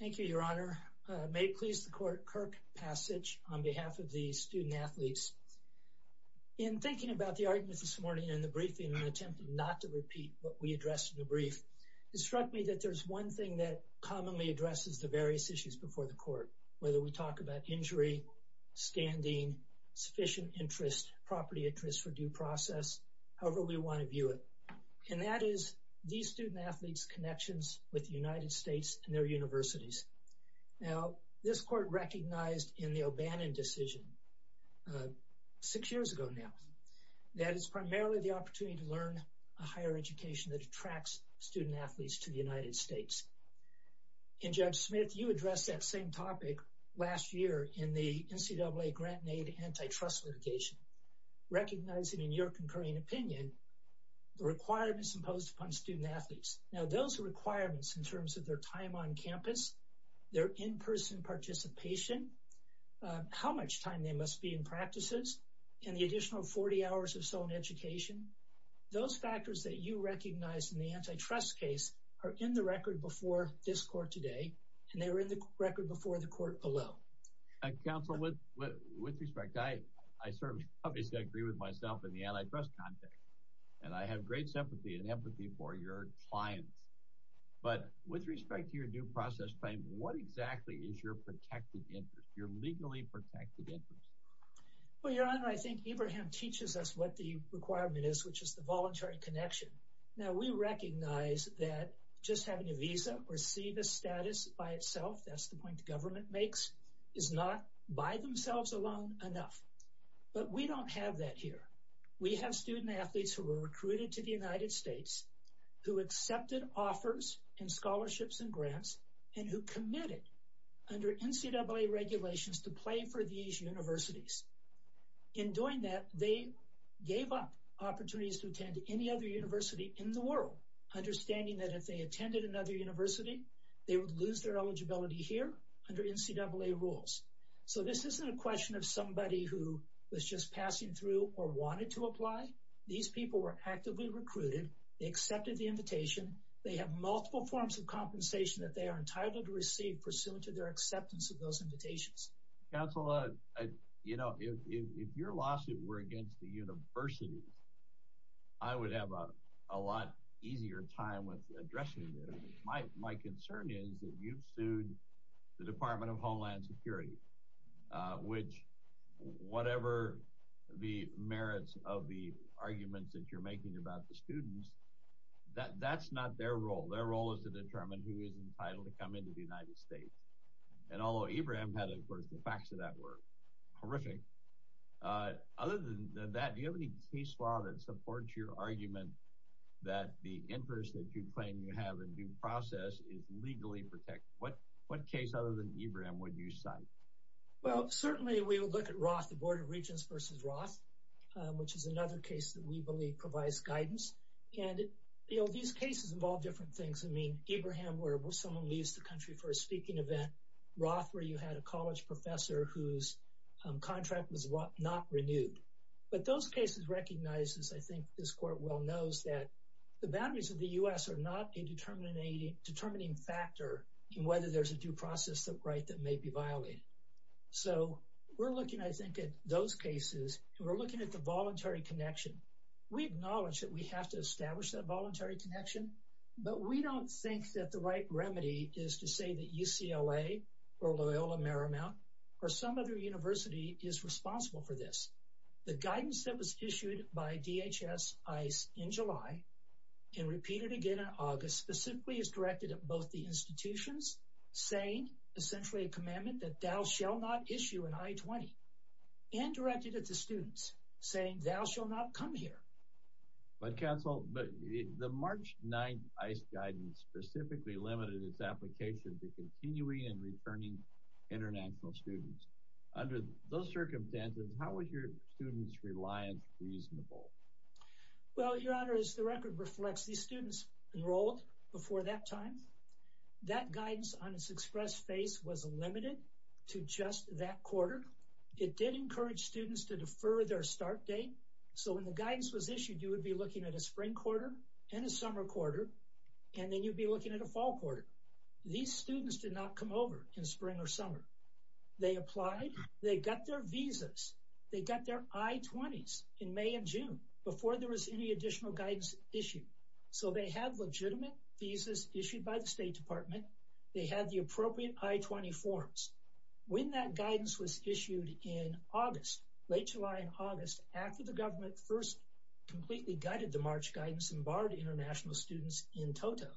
Thank you, Your Honor. May it please the court, Kirk Passage on behalf of the student-athletes. In thinking about the argument this morning in the briefing and attempting not to repeat what we addressed in the brief, it struck me that there's one thing that commonly addresses the various issues before the court, whether we talk about injury, standing, sufficient interest, property interest for due process, however we want to view it. And that is these student- athletes and their universities. Now this court recognized in the O'Bannon decision six years ago now that it's primarily the opportunity to learn a higher education that attracts student-athletes to the United States. And Judge Smith, you addressed that same topic last year in the NCAA grant-made antitrust litigation, recognizing in your concurring opinion the requirements imposed upon student-athletes. Now those requirements in terms of their time on campus, their in-person participation, how much time they must be in practices, and the additional 40 hours or so in education, those factors that you recognize in the antitrust case are in the record before this court today, and they were in the record before the court below. Counsel, with respect, I certainly obviously agree with myself in the antitrust context, and I have great sympathy and empathy for your clients, but with respect to your due process claim, what exactly is your protected interest, your legally protected interest? Well, Your Honor, I think Abraham teaches us what the requirement is, which is the voluntary connection. Now we recognize that just having a visa or see the status by itself, that's the point the government makes, is not by themselves alone enough. But we don't have that here. We have student-athletes who were recruited to the United States, who accepted offers and scholarships and grants, and who committed under NCAA regulations to play for these universities. In doing that, they gave up opportunities to attend any other university in the world, understanding that if they attended another university, they would lose their eligibility here under NCAA rules. So this isn't a question of somebody who was just passing through or wanted to attend another university. It's a question of somebody who was actively recruited. They accepted the invitation. They have multiple forms of compensation that they are entitled to receive pursuant to their acceptance of those invitations. Counsel, you know, if your lawsuit were against the universities, I would have a lot easier time with addressing them. My concern is that you've sued the Department of Homeland Security, which, whatever the merits of the arguments that you're making about the students, that's not their role. Their role is to determine who is entitled to come into the United States. And although Ibrahim had a verse, the facts of that were horrific. Other than that, do you have any case law that supports your argument that the interest that you claim you have in due process is legally protected? What case other than Ibrahim would you cite? Well, certainly we will look at Roth, the Board of Regents versus Roth, which is another case that we believe provides guidance. And, you know, these cases involve different things. I mean, Ibrahim, where someone leaves the country for a speaking event. Roth, where you had a college professor whose contract was not renewed. But those cases recognize, as I think this Court well knows, that the boundaries of the U.S. are not a determining factor in whether there's a due process right that may be violated. So we're looking, I think, at those cases, we're looking at the voluntary connection. We acknowledge that we have to establish that voluntary connection, but we don't think that the right remedy is to say that UCLA or Loyola Marymount or some other university is responsible for this. The guidance that was issued by DHS ICE in July and repeated again in August specifically is directed at both the students saying thou shall not come here. But counsel, the March 9th ICE guidance specifically limited its application to continuing and returning international students. Under those circumstances, how was your students reliance reasonable? Well, your honor, as the record reflects, these students enrolled before that time. That guidance on its express phase was limited to just that quarter. It did encourage students to defer their start date. So when the guidance was issued, you would be looking at a spring quarter and a summer quarter, and then you'd be looking at a fall quarter. These students did not come over in spring or summer. They applied. They got their visas. They got their I-20s in May and June before there was any additional guidance issued. So they have legitimate visas issued by the State Department. They had the guidance was issued in August, late July and August, after the government first completely gutted the March guidance and barred international students in total,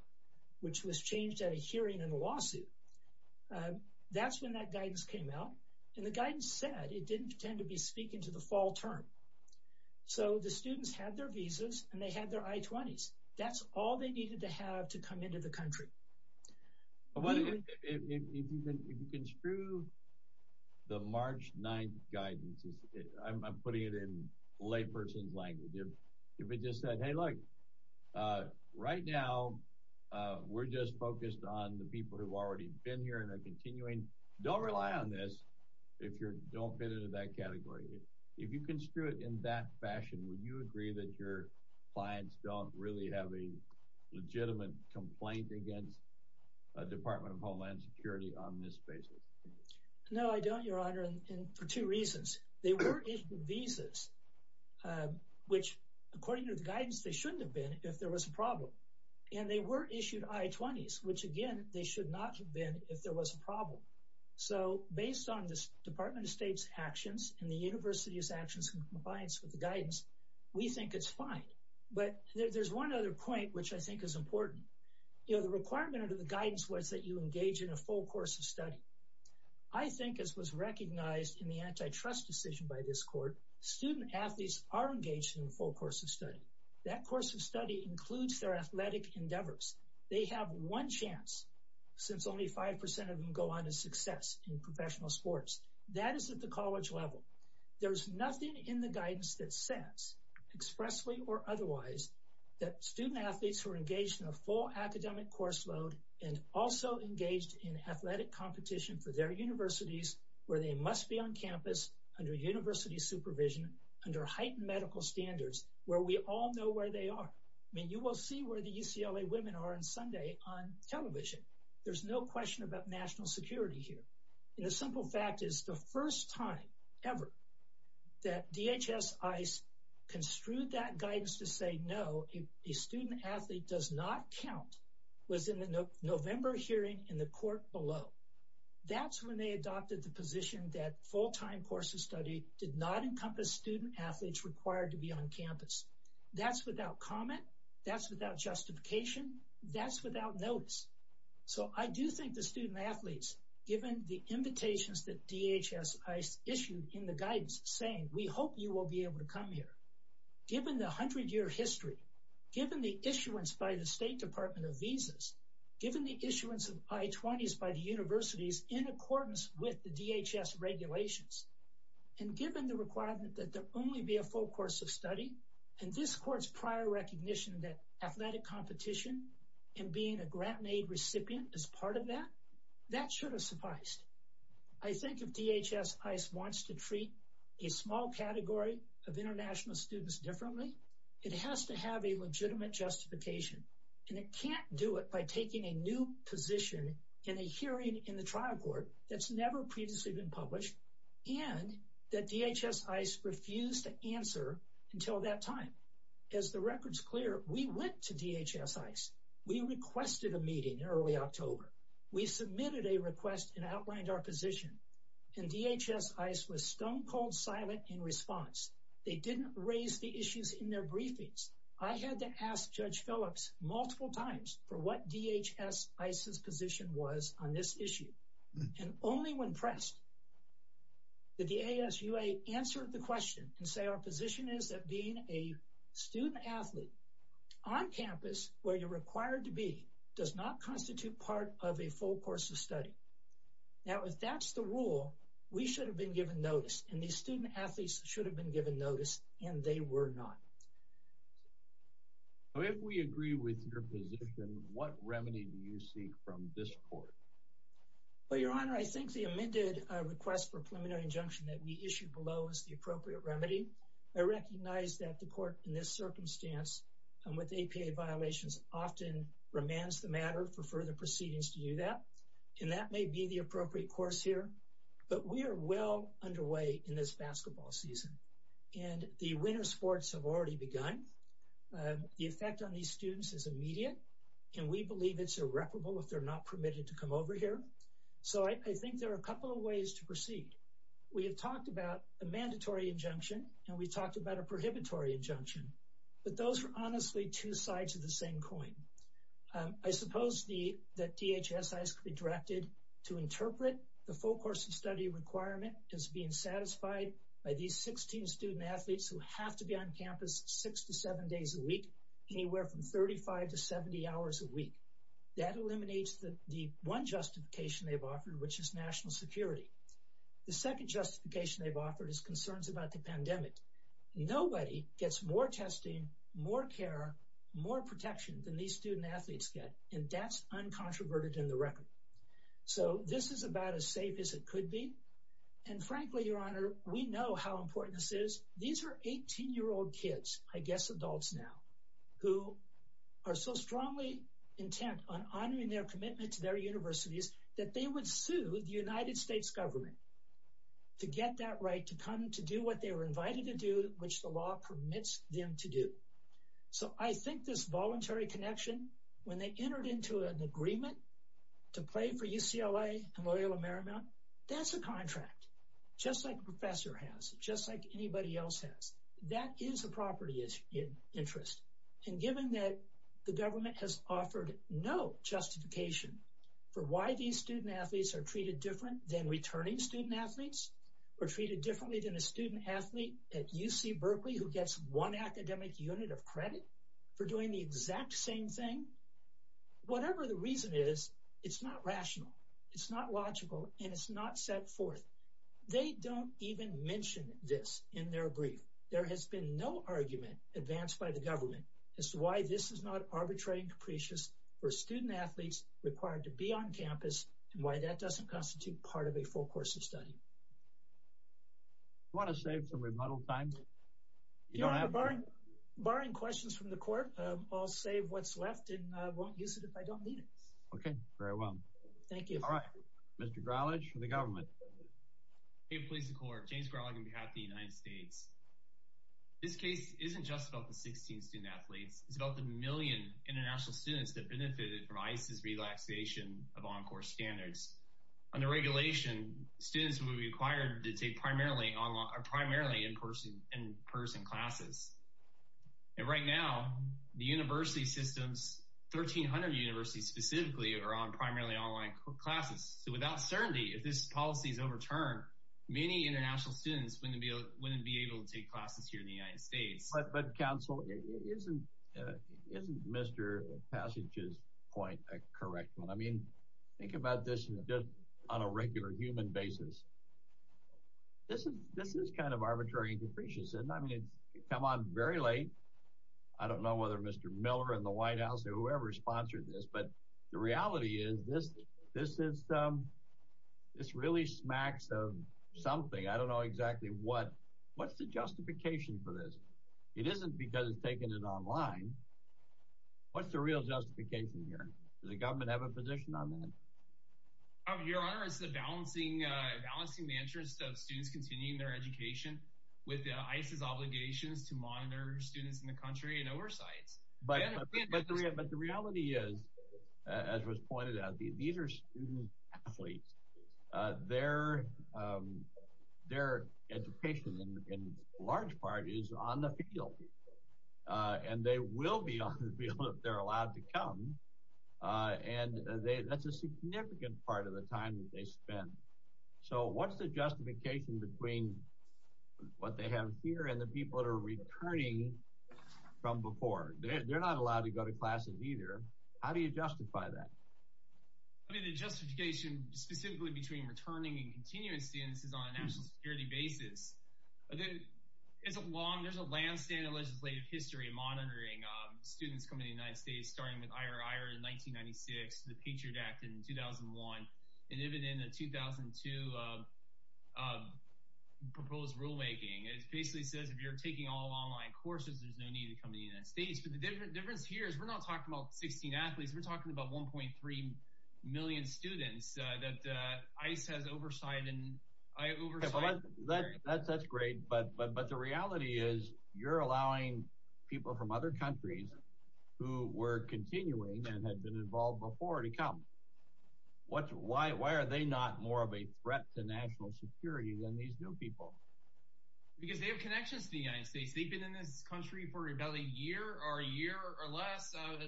which was changed at a hearing in a lawsuit. That's when that guidance came out, and the guidance said it didn't tend to be speaking to the fall term. So the students had their visas and they had their I-20s. That's all they needed to have to come into the country. If you construe the March 9th guidance, I'm putting it in layperson's language. If it just said, hey, look, right now we're just focused on the people who've already been here and are continuing. Don't rely on this if you don't fit into that category. If you construe it in that fashion, would you agree that your clients don't really have a legitimate complaint against the Department of Homeland Security on this basis? No, I don't, Your Honor, and for two reasons. They were issued visas, which according to the guidance, they shouldn't have been if there was a problem. And they were issued I-20s, which again, they should not have been if there was a problem. So based on the Department of State's actions and the University's compliance with the guidance, we think it's fine. But there's one other point, which I think is important. The requirement of the guidance was that you engage in a full course of study. I think as was recognized in the antitrust decision by this court, student athletes are engaged in a full course of study. That course of study includes their athletic endeavors. They have one chance, since only 5% of them go on to success in the U.S. But given in the guidance that says, expressly or otherwise, that student athletes who are engaged in a full academic course load and also engaged in athletic competition for their universities where they must be on campus under university supervision, under heightened medical standards, where we all know where they are. I mean, you will see where the UCLA women are on Sunday on television. There's no question about national security here. And the first time ever that DHS ICE construed that guidance to say, no, a student athlete does not count was in the November hearing in the court below. That's when they adopted the position that full-time course of study did not encompass student athletes required to be on campus. That's without comment. That's without justification. That's without notice. So I do think the student athletes, given the invitations that DHS ICE issued in the guidance saying, we hope you will be able to come here, given the 100-year history, given the issuance by the State Department of Visas, given the issuance of I-20s by the universities in accordance with the DHS regulations, and given the requirement that there only be a full course of study, and this court's prior recognition that athletic competition and being a grant-made recipient is part of that, that should have sufficed. I think if DHS ICE wants to treat a small category of international students differently, it has to have a legitimate justification. And it can't do it by taking a new position in a hearing in the trial court that's never previously been published and that DHS ICE refused to We went to DHS ICE. We requested a meeting in early October. We submitted a request and outlined our position. And DHS ICE was stone-cold silent in response. They didn't raise the issues in their briefings. I had to ask Judge Phillips multiple times for what DHS ICE's position was on this issue. And only when pressed did the ASUA answer the question and say our position is that being a on-campus where you're required to be does not constitute part of a full course of study. Now, if that's the rule, we should have been given notice, and these student-athletes should have been given notice, and they were not. Now, if we agree with your position, what remedy do you seek from this court? Well, Your Honor, I think the amended request for a preliminary injunction that we issued below is the appropriate remedy. I recognize that the court in this circumstance and with APA violations often remands the matter for further proceedings to do that, and that may be the appropriate course here. But we are well underway in this basketball season, and the winter sports have already begun. The effect on these students is immediate, and we believe it's irreparable if they're not permitted to come over here. So I think there are a couple of ways to proceed. We have talked about a mandatory injunction, and we talked about a prohibitory injunction, but those are honestly two sides of the same coin. I suppose that DHSI is directed to interpret the full course of study requirement as being satisfied by these 16 student-athletes who have to be on campus six to seven days a week, anywhere from 35 to 70 hours a week. That eliminates the one justification they've offered, which is national security. The second justification they've offered is concerns about the pandemic. Nobody gets more testing, more care, more protection than these student-athletes get, and that's uncontroverted in the record. So this is about as safe as it could be, and frankly, Your Honor, we know how important this is. These are 18-year-old kids, I guess adults now, who are so strongly intent on honoring their commitment to their universities that they would sue the United States government to get that right to come to do what they were invited to do, which the law permits them to do. So I think this voluntary connection, when they entered into an agreement to play for UCLA and Loyola Marymount, that's a contract, just like a professor has, just like anybody else has. That is a property interest, and given that the government has treated student-athletes differently than returning student-athletes, or treated differently than a student-athlete at UC Berkeley who gets one academic unit of credit for doing the exact same thing, whatever the reason is, it's not rational, it's not logical, and it's not set forth. They don't even mention this in their brief. There has been no argument advanced by the government as to why this is not arbitrary and capricious for student-athletes required to be on course. That doesn't constitute part of a full course of study. You want to save some rebuttal time? Barring questions from the court, I'll save what's left and won't use it if I don't need it. Okay, very well. Thank you. All right, Mr. Gralich for the government. Hey, police and court. James Gralich on behalf of the United States. This case isn't just about the 16 student-athletes. It's about the million international students that benefited from ICE's relaxation of on-course standards. Under regulation, students would be required to take primarily in-person classes. And right now, the university systems, 1,300 universities specifically, are on primarily online classes. So without certainty, if this policy is overturned, many international students wouldn't be able to take classes here in the United States. But counsel, isn't Mr. Passage's point a correct one? I mean, think about this on a regular human basis. This is kind of arbitrary and capricious. I mean, it's come on very late. I don't know whether Mr. Miller in the White House or whoever sponsored this, but the reality is this really smacks of something. I don't know exactly what's the justification for this. It isn't because it's taken it online. What's the real justification here? Does the government have a position on that? Your Honor, it's the balancing the interest of students continuing their education with ICE's obligations to monitor students in the country and oversights. But the reality is, as was pointed out, these are student-athletes. Their education, in large part, is on the field. And they will be on the field if they're allowed to come. And that's a significant part of the time that they spend. So what's the justification between what they have here and the people that are returning from before? They're not allowed to go to classes either. How do you justify that? I mean, the justification specifically between returning and continuing students is on a national security basis. There's a long, there's a landscape in legislative history of monitoring students coming to the United States, starting with Ira Iron in 1996, the Patriot Act in 2001, and even in the 2002 proposed rulemaking. It basically says if you're taking all online courses, there's no need to come to the United States. But the difference here is we're not talking about 16 athletes. We're talking about 1.3 million students that ICE has oversigned. That's great. But the reality is you're allowing people from other countries who were continuing and had been involved before to come. Why are they not more of a threat to national security than these new people? Because they have connections to the United States. They've been in this country for about a year or a year or less of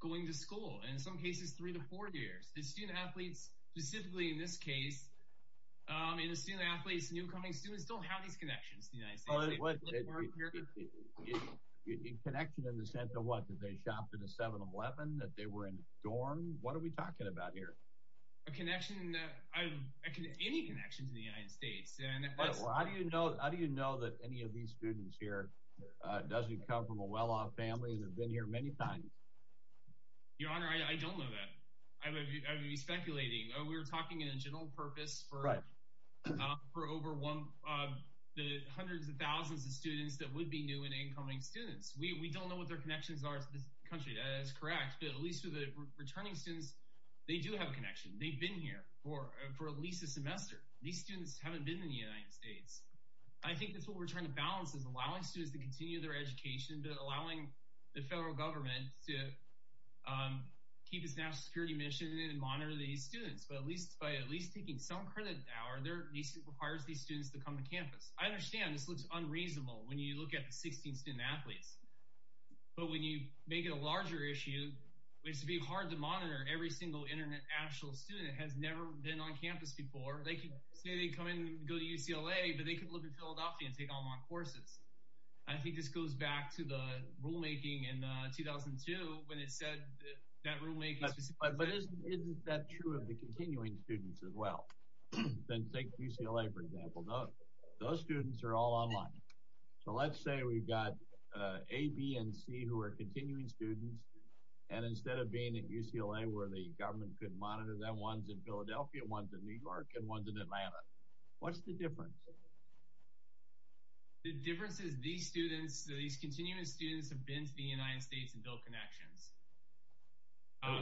going to school, and in some cases, three to four years. The student-athletes, specifically in this case, in the student-athletes, newcoming students don't have these connections. Connection in the sense of what? That they shopped at a 7-Eleven? That they were in dorms? What are we talking about here? A connection, any connection to the United States. How do you know that any of these students here doesn't come from a well-off family and have been here many times? Your Honor, I don't know that. I would be speculating. We're talking in a general purpose for over the hundreds of thousands of students that would be new and incoming students. We don't know what their connections are to this country. That's correct. But at least for the returning students, they do have a connection. They've been here for at least a semester. These students haven't been in the United States. I think that's what we're trying to balance, is allowing students to continue their education, but allowing the federal government to keep its national security mission and monitor these students. But at least by at least taking some credit now, it requires these students to come to campus. I understand this looks unreasonable when you look at the 16 student-athletes. But when you make it a larger issue, it's going to be hard to monitor every single international student that has never been on campus before. They could say they come in and go to UCLA, but they could look in Philadelphia and take online courses. I think this goes back to the rulemaking in 2002 when it said that rulemaking But isn't that true of the continuing students as well? Take UCLA for example. Those students are all online. So let's say we've got A, B, and C who are continuing students, and instead of being at UCLA where the government could monitor them, one's in Philadelphia, one's in New York, and one's in Atlanta. What's the difference? The difference is these students, these continuing students have been to the United States and built connections.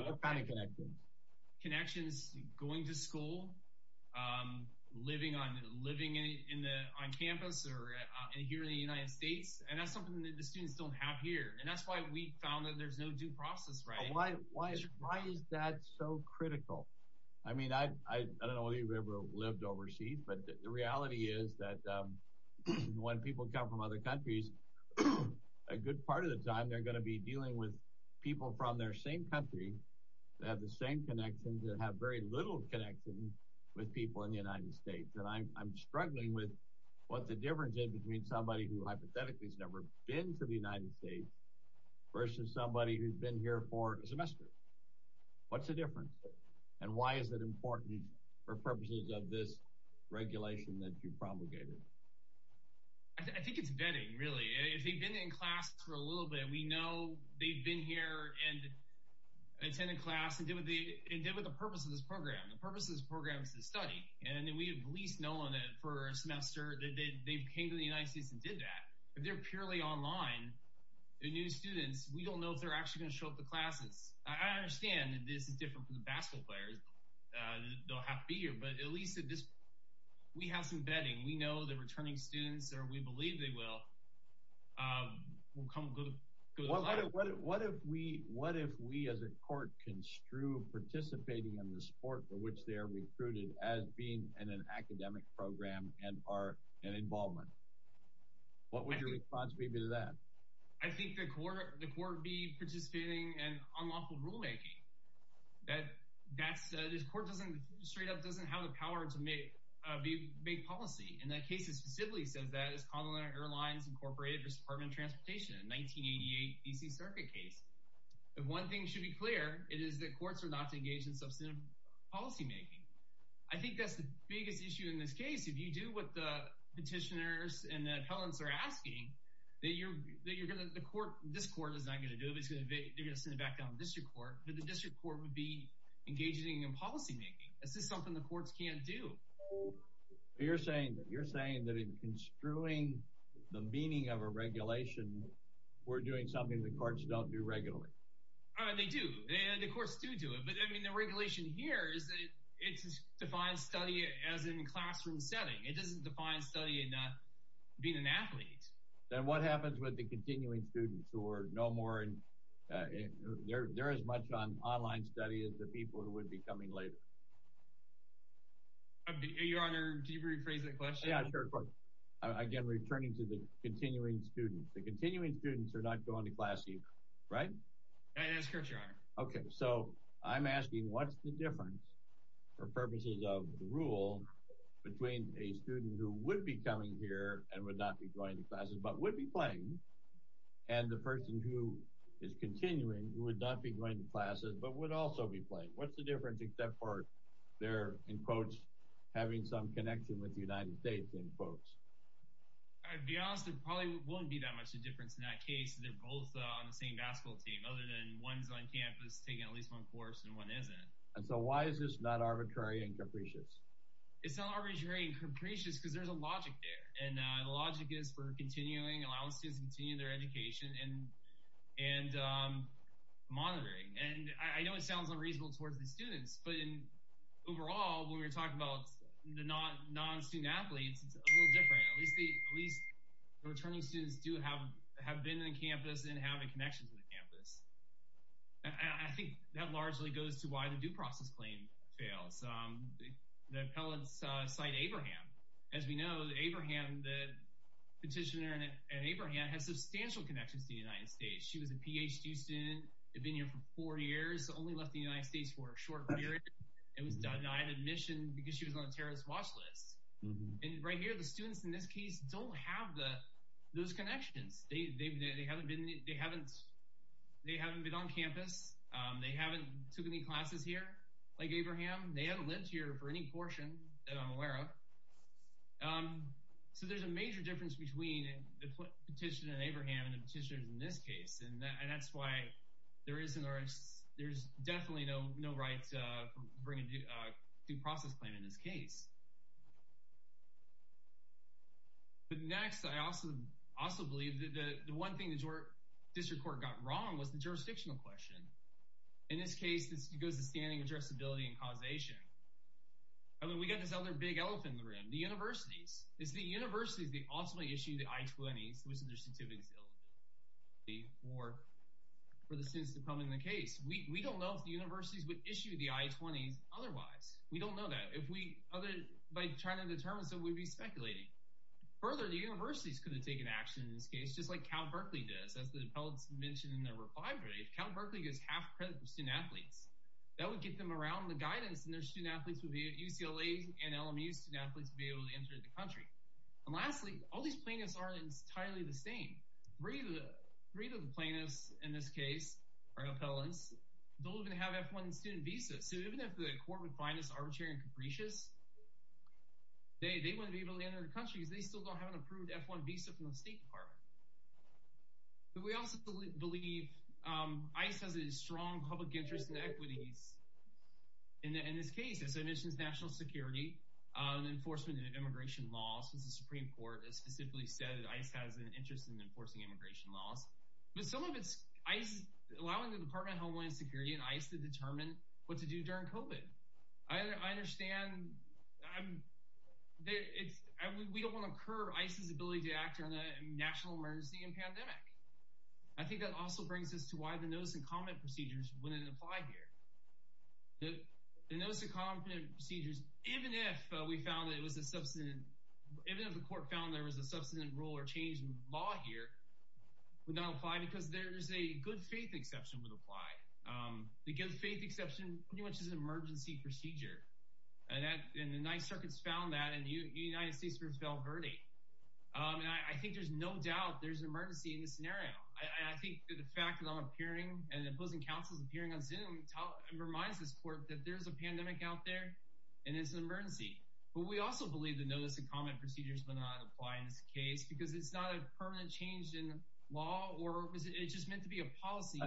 What kind of connections? Connections going to school, living on campus, or here in the United States. And that's something that the students don't have here. And that's why we found that there's no due process, right? Why is that so critical? I mean, I don't know whether you've ever lived overseas, but the reality is that when people come from other countries, a good part of the time they're going to be dealing with people from their same country that have the same connections and have very little connection with people in the United States. And I'm struggling with what the difference is between somebody who hypothetically has never been to the United States versus somebody who's been here for a semester. What's the difference? And why is it important for purposes of this regulation that you promulgated? I think it's vetting, really. If they've been in class for a little bit, we know they've been here and attended class and did what they did with the purpose of this program. The purpose of this program is to study, and we have at least known it for a semester that they came to the United States and did that. If they're purely online, they're new students, we don't know if they're actually going to show up to classes. I understand that this is different for the basketball players. They'll have to be here, but at least we have some vetting. We know the returning students, or we believe they will, will come and go to class. What if we as a court construe participating in the sport for which they are recruited as being in an academic program and are involved? What would your response be to that? I think the court would be participating in unlawful rulemaking. This court doesn't have the power to make policy, and that case specifically says that. It's Connell Air Lines Incorporated versus Department of Transportation, a 1988 D.C. Circuit case. If one thing should be clear, it is that courts are not to engage in substantive policymaking. I think that's the biggest issue in this case. If you do what the petitioners and the appellants are asking, this court is not going to do it. They're going to send it back down to the district court, but the district court would be engaging in policymaking. This is something the courts can't do. You're saying that in construing the meaning of a regulation, we're doing something the courts don't do regularly. They do, and the courts do do it, but the regulation here is that it defines study as in a classroom setting. It doesn't define study in being an athlete. Then what happens with the continuing students who are no more, and they're as much on online study as the people who would be coming later? Your Honor, can you rephrase that question? Again, returning to the continuing students. The continuing students are not going to class either, right? That's correct, Your Honor. Okay, so I'm asking what's the difference, for purposes of the rule, between a student who would be coming here and would not be going to classes but would be playing, and the person who is continuing who would not be going to classes but would also be playing. What's the difference except for they're, in quotes, having some connection with the United States, in quotes? I'd be honest, it probably wouldn't be that much a difference in that case. They're both on the same basketball team other than one's on campus taking at least one course and one isn't. And so why is this not arbitrary and capricious? It's not arbitrary and capricious because there's a logic there, and the logic is for continuing, allowing students to continue their education and monitoring. And I know it sounds unreasonable towards the students, but overall, when we're talking about the non-student-athletes, it's a little different. At least the returning students do have have been on campus and having connections with the campus. I think that largely goes to why the due process claim fails. The appellants cite Abraham. As we know, Abraham, the petitioner in Abraham, has substantial connections to the United States. She was a PhD student, had been here for four years, only left the United States for a short period, and was denied admission because she was on a terrorist watch list. And right here, the students in this case don't have those connections. They haven't been on campus. They haven't took any classes here like Abraham. They haven't lived here for any portion that I'm aware of. So there's a major difference between the petitioner in Abraham and the right to bring a due process claim in this case. But next, I also believe that the one thing the district court got wrong was the jurisdictional question. In this case, it goes to standing addressability and causation. I mean, we got this other big elephant in the room, the universities. It's the universities that ultimately issue the I-20s, which are their certificates of eligibility, for the students to come in the case. We don't know if the universities would issue the I-20s otherwise. We don't know that. By trying to determine, so we'd be speculating. Further, the universities could have taken action in this case, just like Cal Berkeley does. As the appellants mentioned in their reply brief, Cal Berkeley gives half credit for student-athletes. That would get them around the guidance and their student-athletes would be at UCLA and LMU student-athletes would be able to enter the country. And lastly, all these plaintiffs aren't entirely the same. Three of the plaintiffs in this case, our appellants, don't even have F-1 student visas. So even if the court would find this arbitrary and capricious, they wouldn't be able to enter the country because they still don't have an approved F-1 visa from the State Department. But we also believe ICE has a strong public interest in equities in this case. As I mentioned, it's national security and enforcement and immigration laws. Since the Supreme Court specifically said that ICE has an interest in enforcing immigration laws. But allowing the Department of Homeland Security and ICE to determine what to do during COVID. I understand we don't want to curb ICE's ability to act on a national emergency and pandemic. I think that also brings us to why the notice and comment procedures wouldn't apply here. The notice and comment procedures, even if we found that it was a substantive, even if the court found there was a substantive rule or change in the law here, would not apply because there's a good faith exception would apply. The good faith exception pretty much is an emergency procedure. And the United Circuits found that and the United States versus Val Verde. And I think there's no doubt there's an emergency in this scenario. I think the fact that I'm appearing and opposing counsels appearing and reminds this court that there's a pandemic out there and it's an emergency. But we also believe the notice and comment procedures will not apply in this case because it's not a permanent change in law or it's just meant to be a policy.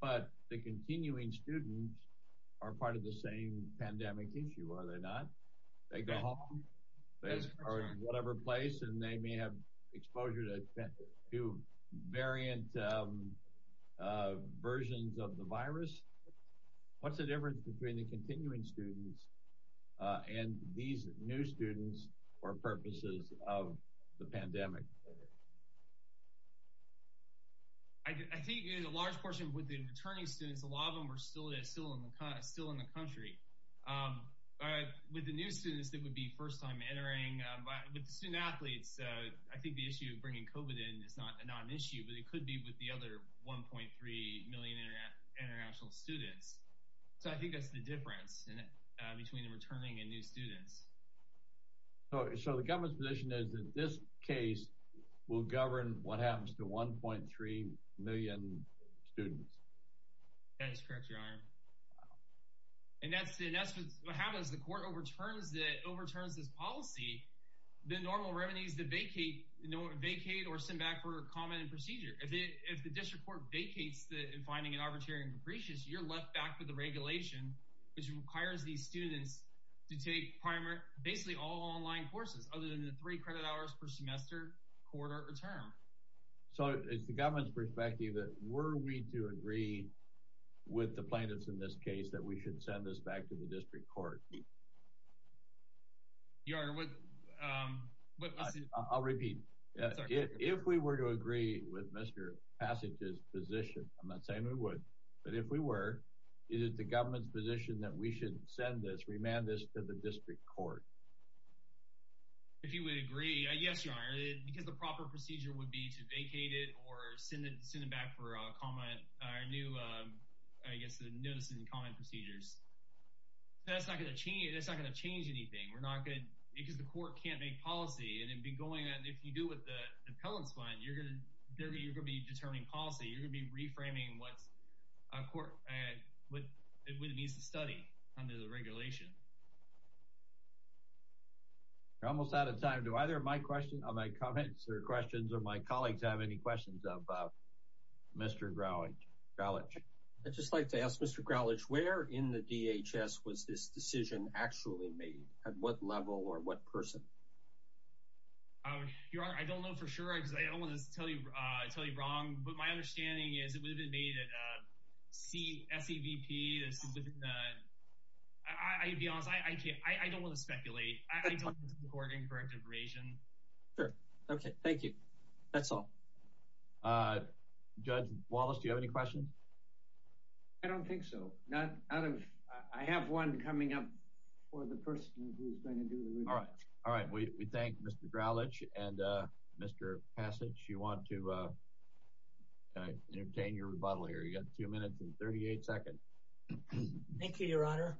But the continuing students are part of the same pandemic issue, are they not? They go home or whatever place and they may have exposure to variant versions of the virus. What's the difference between the continuing students and these new students for purposes of the pandemic? I think a large portion with the returning students, a lot of them are still in the country. But with the new students that would be first time entering, with the student athletes, I think the issue of bringing COVID in is not an issue, but it could be with the other 1.3 million international students. So I think that's the difference between the returning and new students. So the government's position is that this case will govern what happens to 1.3 million students? That is correct, Your Honor. And that's what happens. The court overturns this policy. The normal remedies that vacate or send back for comment and procedure. If the district court vacates in finding it arbitrary and capricious, you're left back with the regulation which requires these students to take basically all online courses other than the three credit hours per semester, quarter, or term. So it's the government's perspective that were we to agree with the plaintiffs in this case that we should send this back to the district court? Your Honor, what... I'll repeat. If we were to agree with Mr. Passage's position, I'm not saying we would, but if we were, is it the government's position that we should send this, remand this to the district court? If you would agree, yes, Your Honor, because the proper procedure would be to vacate it or send it back for comment, our new, I guess, notice and comment procedures. That's not going to change anything. We're not going to, because the court can't make policy, and it'd be going, and if you do with the appellant's one, you're going to, you're going to be determining policy. You're going to be reframing what a court, what it needs to study under the regulation. We're almost out of time. Do either of my questions, or my comments, or questions, or my colleagues have any questions about Mr. Gralich? Gralich. I'd just like to ask Mr. Gralich, where in the DHS was this decision actually made? At what level or what person? Your Honor, I don't know for sure, because I don't want to tell you wrong, but my understanding is it would have been made at CSEVP. I'll be honest, I don't want to speculate. I don't think it's a court incorrect information. Sure. Okay. Thank you. That's all. Judge Wallace, do you have any questions? I don't think so. I have one coming up for the person who's going to do the rebuttal. All right. All right. We thank Mr. Gralich, and Mr. Passage, you want to entertain your rebuttal here. You've got two minutes and 38 seconds. Thank you, Your Honor.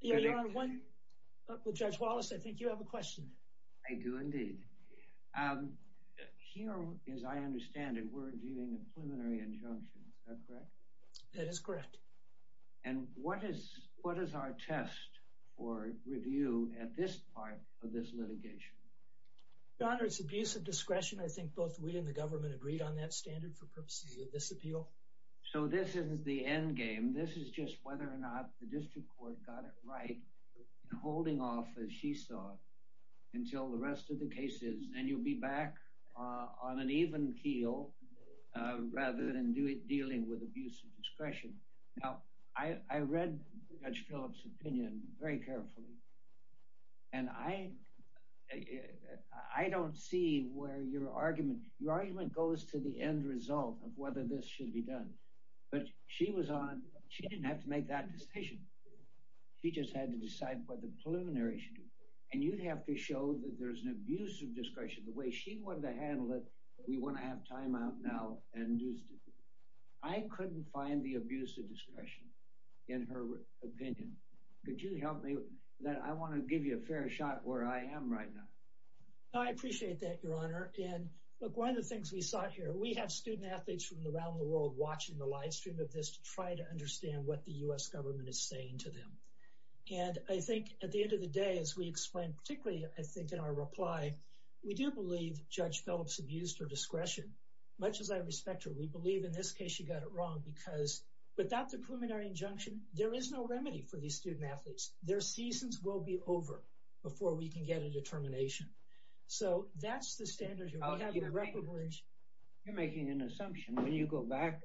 Your Honor, one, with Judge Wallace, I think you have a question. I do indeed. Here, as I understand it, we're viewing a preliminary injunction. Is that correct? That is correct. And what is our test for review at this part of this litigation? Your Honor, it's abuse of discretion. I think both we and the government agreed on that standard for purposes of this appeal. So this isn't the end game. This is just whether or not the district court got it right in holding off, as she saw it, until the rest of the cases, and you'll be back on an even keel rather than dealing with abuse of discretion. Now, I read Judge Phillips' opinion very carefully, and I don't see where your argument — your argument goes to the end result of whether this should be done. But she was on — she didn't have to make that decision. She just had to decide what the preliminary should do. And you'd have to show that there's an abuse of discretion the way she wanted to handle it. We want to have time out now and do — I couldn't find the abuse of discretion in her opinion. Could you help me with that? I want to give you a fair shot where I am right now. I appreciate that, Your Honor. And look, one of the things we sought here — we have student of this to try to understand what the U.S. government is saying to them. And I think, at the end of the day, as we explained, particularly, I think, in our reply, we do believe Judge Phillips abused her discretion, much as I respect her. We believe, in this case, she got it wrong, because without the preliminary injunction, there is no remedy for these student athletes. Their seasons will be over before we can get a determination. So that's the standard here. You're making an assumption. When you go back,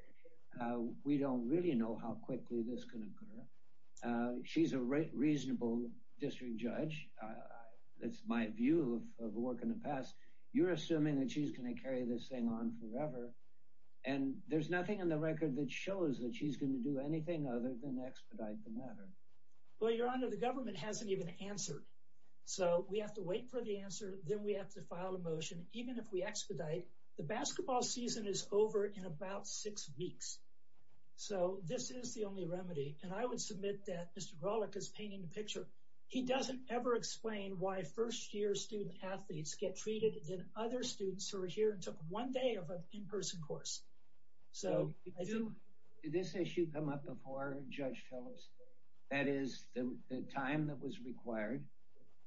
we don't really know how quickly this can occur. She's a reasonable district judge. That's my view of work in the past. You're assuming that she's going to carry this thing on forever. And there's nothing in the record that shows that she's going to do anything other than expedite the matter. Well, Your Honor, the government hasn't even answered. So we have to wait for the answer. Then we have to file a motion, even if we expedite. The basketball season is over in about six weeks. So this is the only remedy. And I would submit that Mr. Grawlich is painting the picture. He doesn't ever explain why first-year student athletes get treated than other students who are here and took one day of an in-person course. So did this issue come up before Judge Phillips? That is the time that was required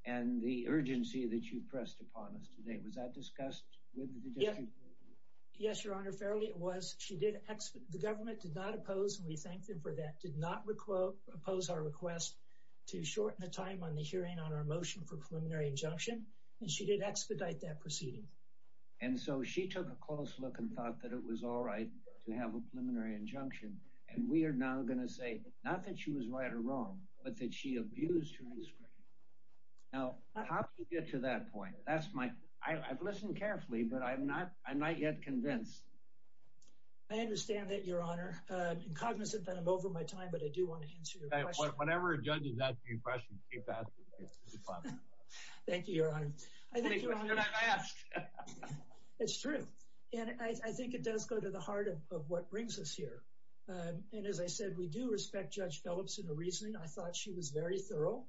and the urgency that you've pressed upon us today. Was that discussed with the district? Yes, Your Honor. Fairly, it was. The government did not oppose, and we thank them for that, did not oppose our request to shorten the time on the hearing on our motion for preliminary injunction. And she did expedite that proceeding. And so she took a close look and thought that it was all right to have a preliminary injunction. And we are now going to say, not that she was right or wrong, but that she abused her discretion. Now, how did you get to that point? That's my, I've listened carefully, but I'm not, I'm not yet convinced. I understand that, Your Honor. I'm cognizant that I'm over my time, but I do want to answer your question. Whenever a judge is asking you a question, keep asking. Thank you, Your Honor. That's true. And I think it does go to the heart of what brings us here. And as I said, we do respect Judge Phillips in her reasoning. I thought she was very thorough.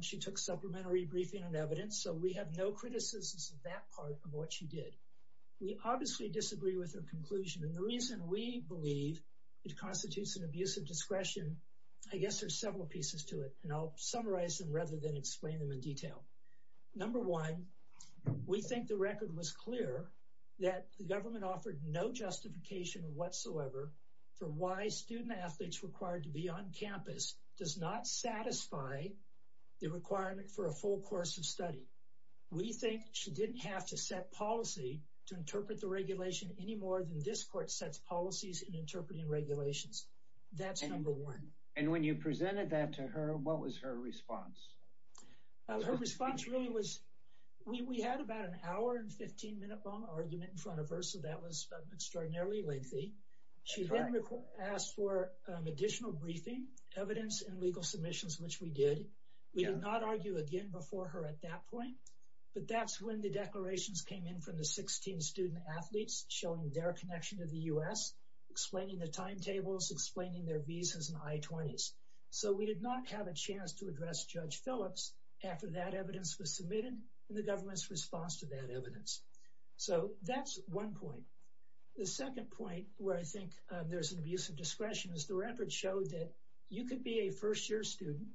She took supplementary briefing and evidence, so we have no criticisms of that part of what she did. We obviously disagree with her conclusion. And the reason we believe it constitutes an abuse of discretion, I guess there's several pieces to it. And I'll summarize them rather than explain them in detail. Number one, we think the record was clear that the government offered no justification whatsoever for why student athletes required to be on campus does not satisfy the requirement for a full course of study. We think she didn't have to set policy to interpret the regulation any more than this court sets policies in interpreting regulations. That's number one. And when you presented that to her, what was her response? Her response really was we had about an hour and 15-minute long argument in front of her, so that was extraordinarily lengthy. She then asked for additional briefing, evidence, and legal submissions, which we did. We did not argue again before her at that point, but that's when the declarations came in from the 16 student athletes showing their connection to the U.S., explaining the timetables, explaining their visas and I-20s. So we did not have a that evidence was submitted in the government's response to that evidence. So that's one point. The second point where I think there's an abuse of discretion is the record showed that you could be a first-year student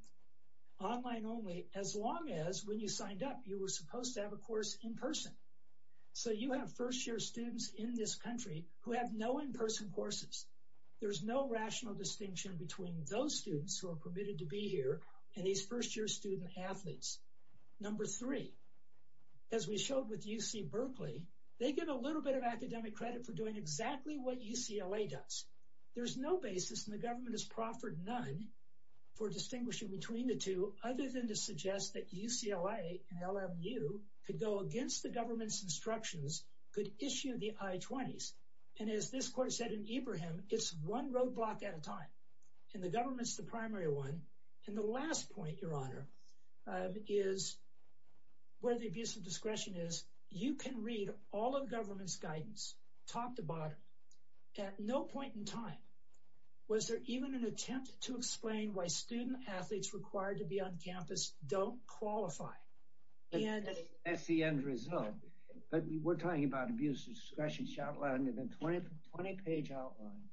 online only as long as when you signed up you were supposed to have a course in person. So you have first-year students in this country who have no in-person courses. There's no rational distinction between those students who are permitted to be here and these first-year student athletes. Number three, as we showed with UC Berkeley, they give a little bit of academic credit for doing exactly what UCLA does. There's no basis, and the government has proffered none, for distinguishing between the two other than to suggest that UCLA and LMU could go against the government's instructions, could issue the I-20s. And as this court said in the last point, Your Honor, is where the abuse of discretion is, you can read all of the government's guidance, talk the bottom. At no point in time was there even an attempt to explain why student athletes required to be on campus don't qualify. And that's the end result. But we're talking about abuse of discretion. She outlined in a 20-page outline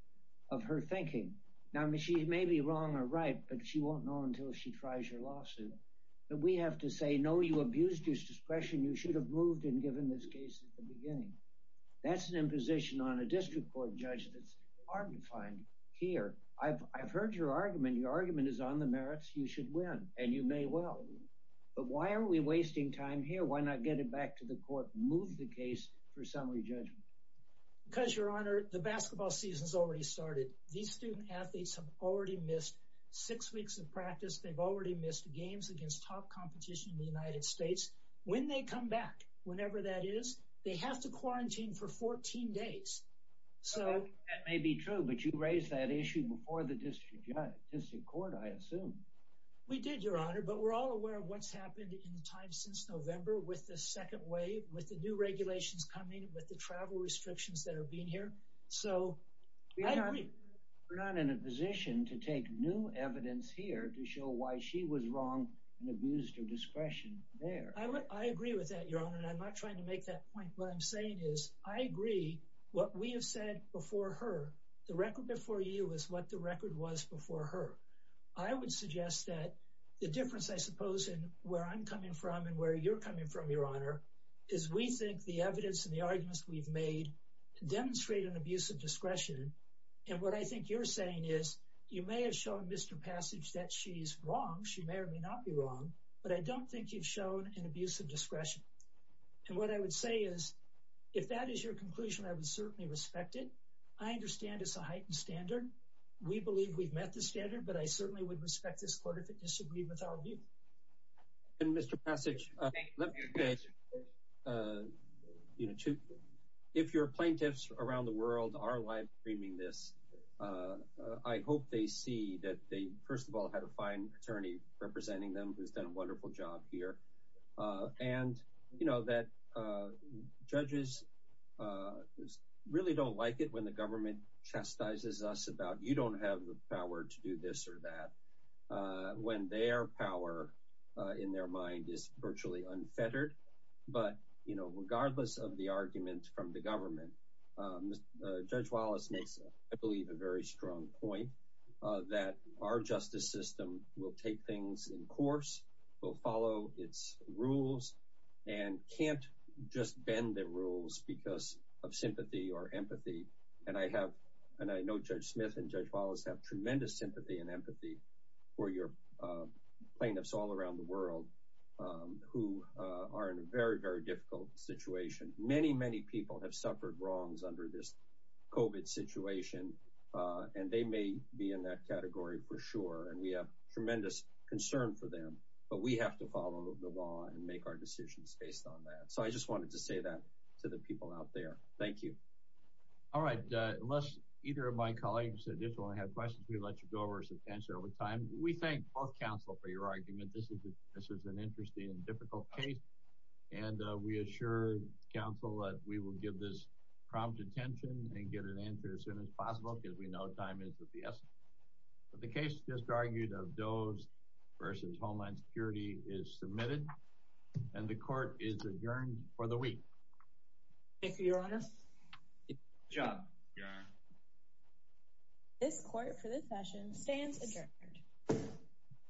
of her thinking. Now she may be wrong or right, but she won't know until she tries her lawsuit. But we have to say, no, you abused your discretion. You should have moved and given this case at the beginning. That's an imposition on a district court judge that's hard to find here. I've heard your argument. Your argument is on the merits. You should win, and you may well. But why are we wasting time here? Why not get it back to the court, move the case for summary judgment? Because, Your Honor, the basketball season's already started. These student athletes have already missed six weeks of practice. They've already missed games against top competition in the United States. When they come back, whenever that is, they have to quarantine for 14 days. That may be true, but you raised that issue before the district court, I assume. We did, Your Honor, but we're all aware of what's happened in time since November with the second wave, with the new regulations coming, with the travel restrictions that are being here. So, I agree. We're not in a position to take new evidence here to show why she was wrong and abused her discretion there. I agree with that, Your Honor, and I'm not trying to make that point. What I'm saying is, I agree what we have said before her. The record before you is what the record was before her. I would suggest that the difference, I suppose, in where I'm coming from and where you're coming from, Your Honor, is we think the evidence and arguments we've made demonstrate an abuse of discretion. And what I think you're saying is, you may have shown Mr. Passage that she's wrong. She may or may not be wrong, but I don't think you've shown an abuse of discretion. And what I would say is, if that is your conclusion, I would certainly respect it. I understand it's a heightened standard. We believe we've met the standard, but I certainly would respect this court if it disagreed with our view. And Mr. Passage, let me say, if your plaintiffs around the world are live streaming this, I hope they see that they, first of all, had a fine attorney representing them who's done a wonderful job here. And, you know, that judges really don't like it when the government chastises us about, you don't have the power to do this or that, when their power in their mind is virtually unfettered. But, you know, regardless of the argument from the government, Judge Wallace makes, I believe, a very strong point that our justice system will take things in course, will follow its rules, and can't just bend the rules because of sympathy or empathy. And I have, and I know Judge Smith and Judge Wallace have tremendous sympathy and empathy for your plaintiffs all around the world who are in a very, very difficult situation. Many, many people have suffered wrongs under this COVID situation, and they may be in that category for sure. And we have tremendous concern for them, but we have to follow the law and make our decisions based on that. So I just wanted to say that to the people out there. Thank you. All right. Unless either of my colleagues additionally have questions, we'll let you go over some answer over time. We thank both counsel for your argument. This is an interesting and difficult case, and we assure counsel that we will give this prompt attention and get an answer as soon as possible because we know time is of the essence. But the case just argued of Doe's versus Homeland Security is submitted, and the court is adjourned for the week. Thank you, Your Honor. Good job, Your Honor. This court for this session stands adjourned.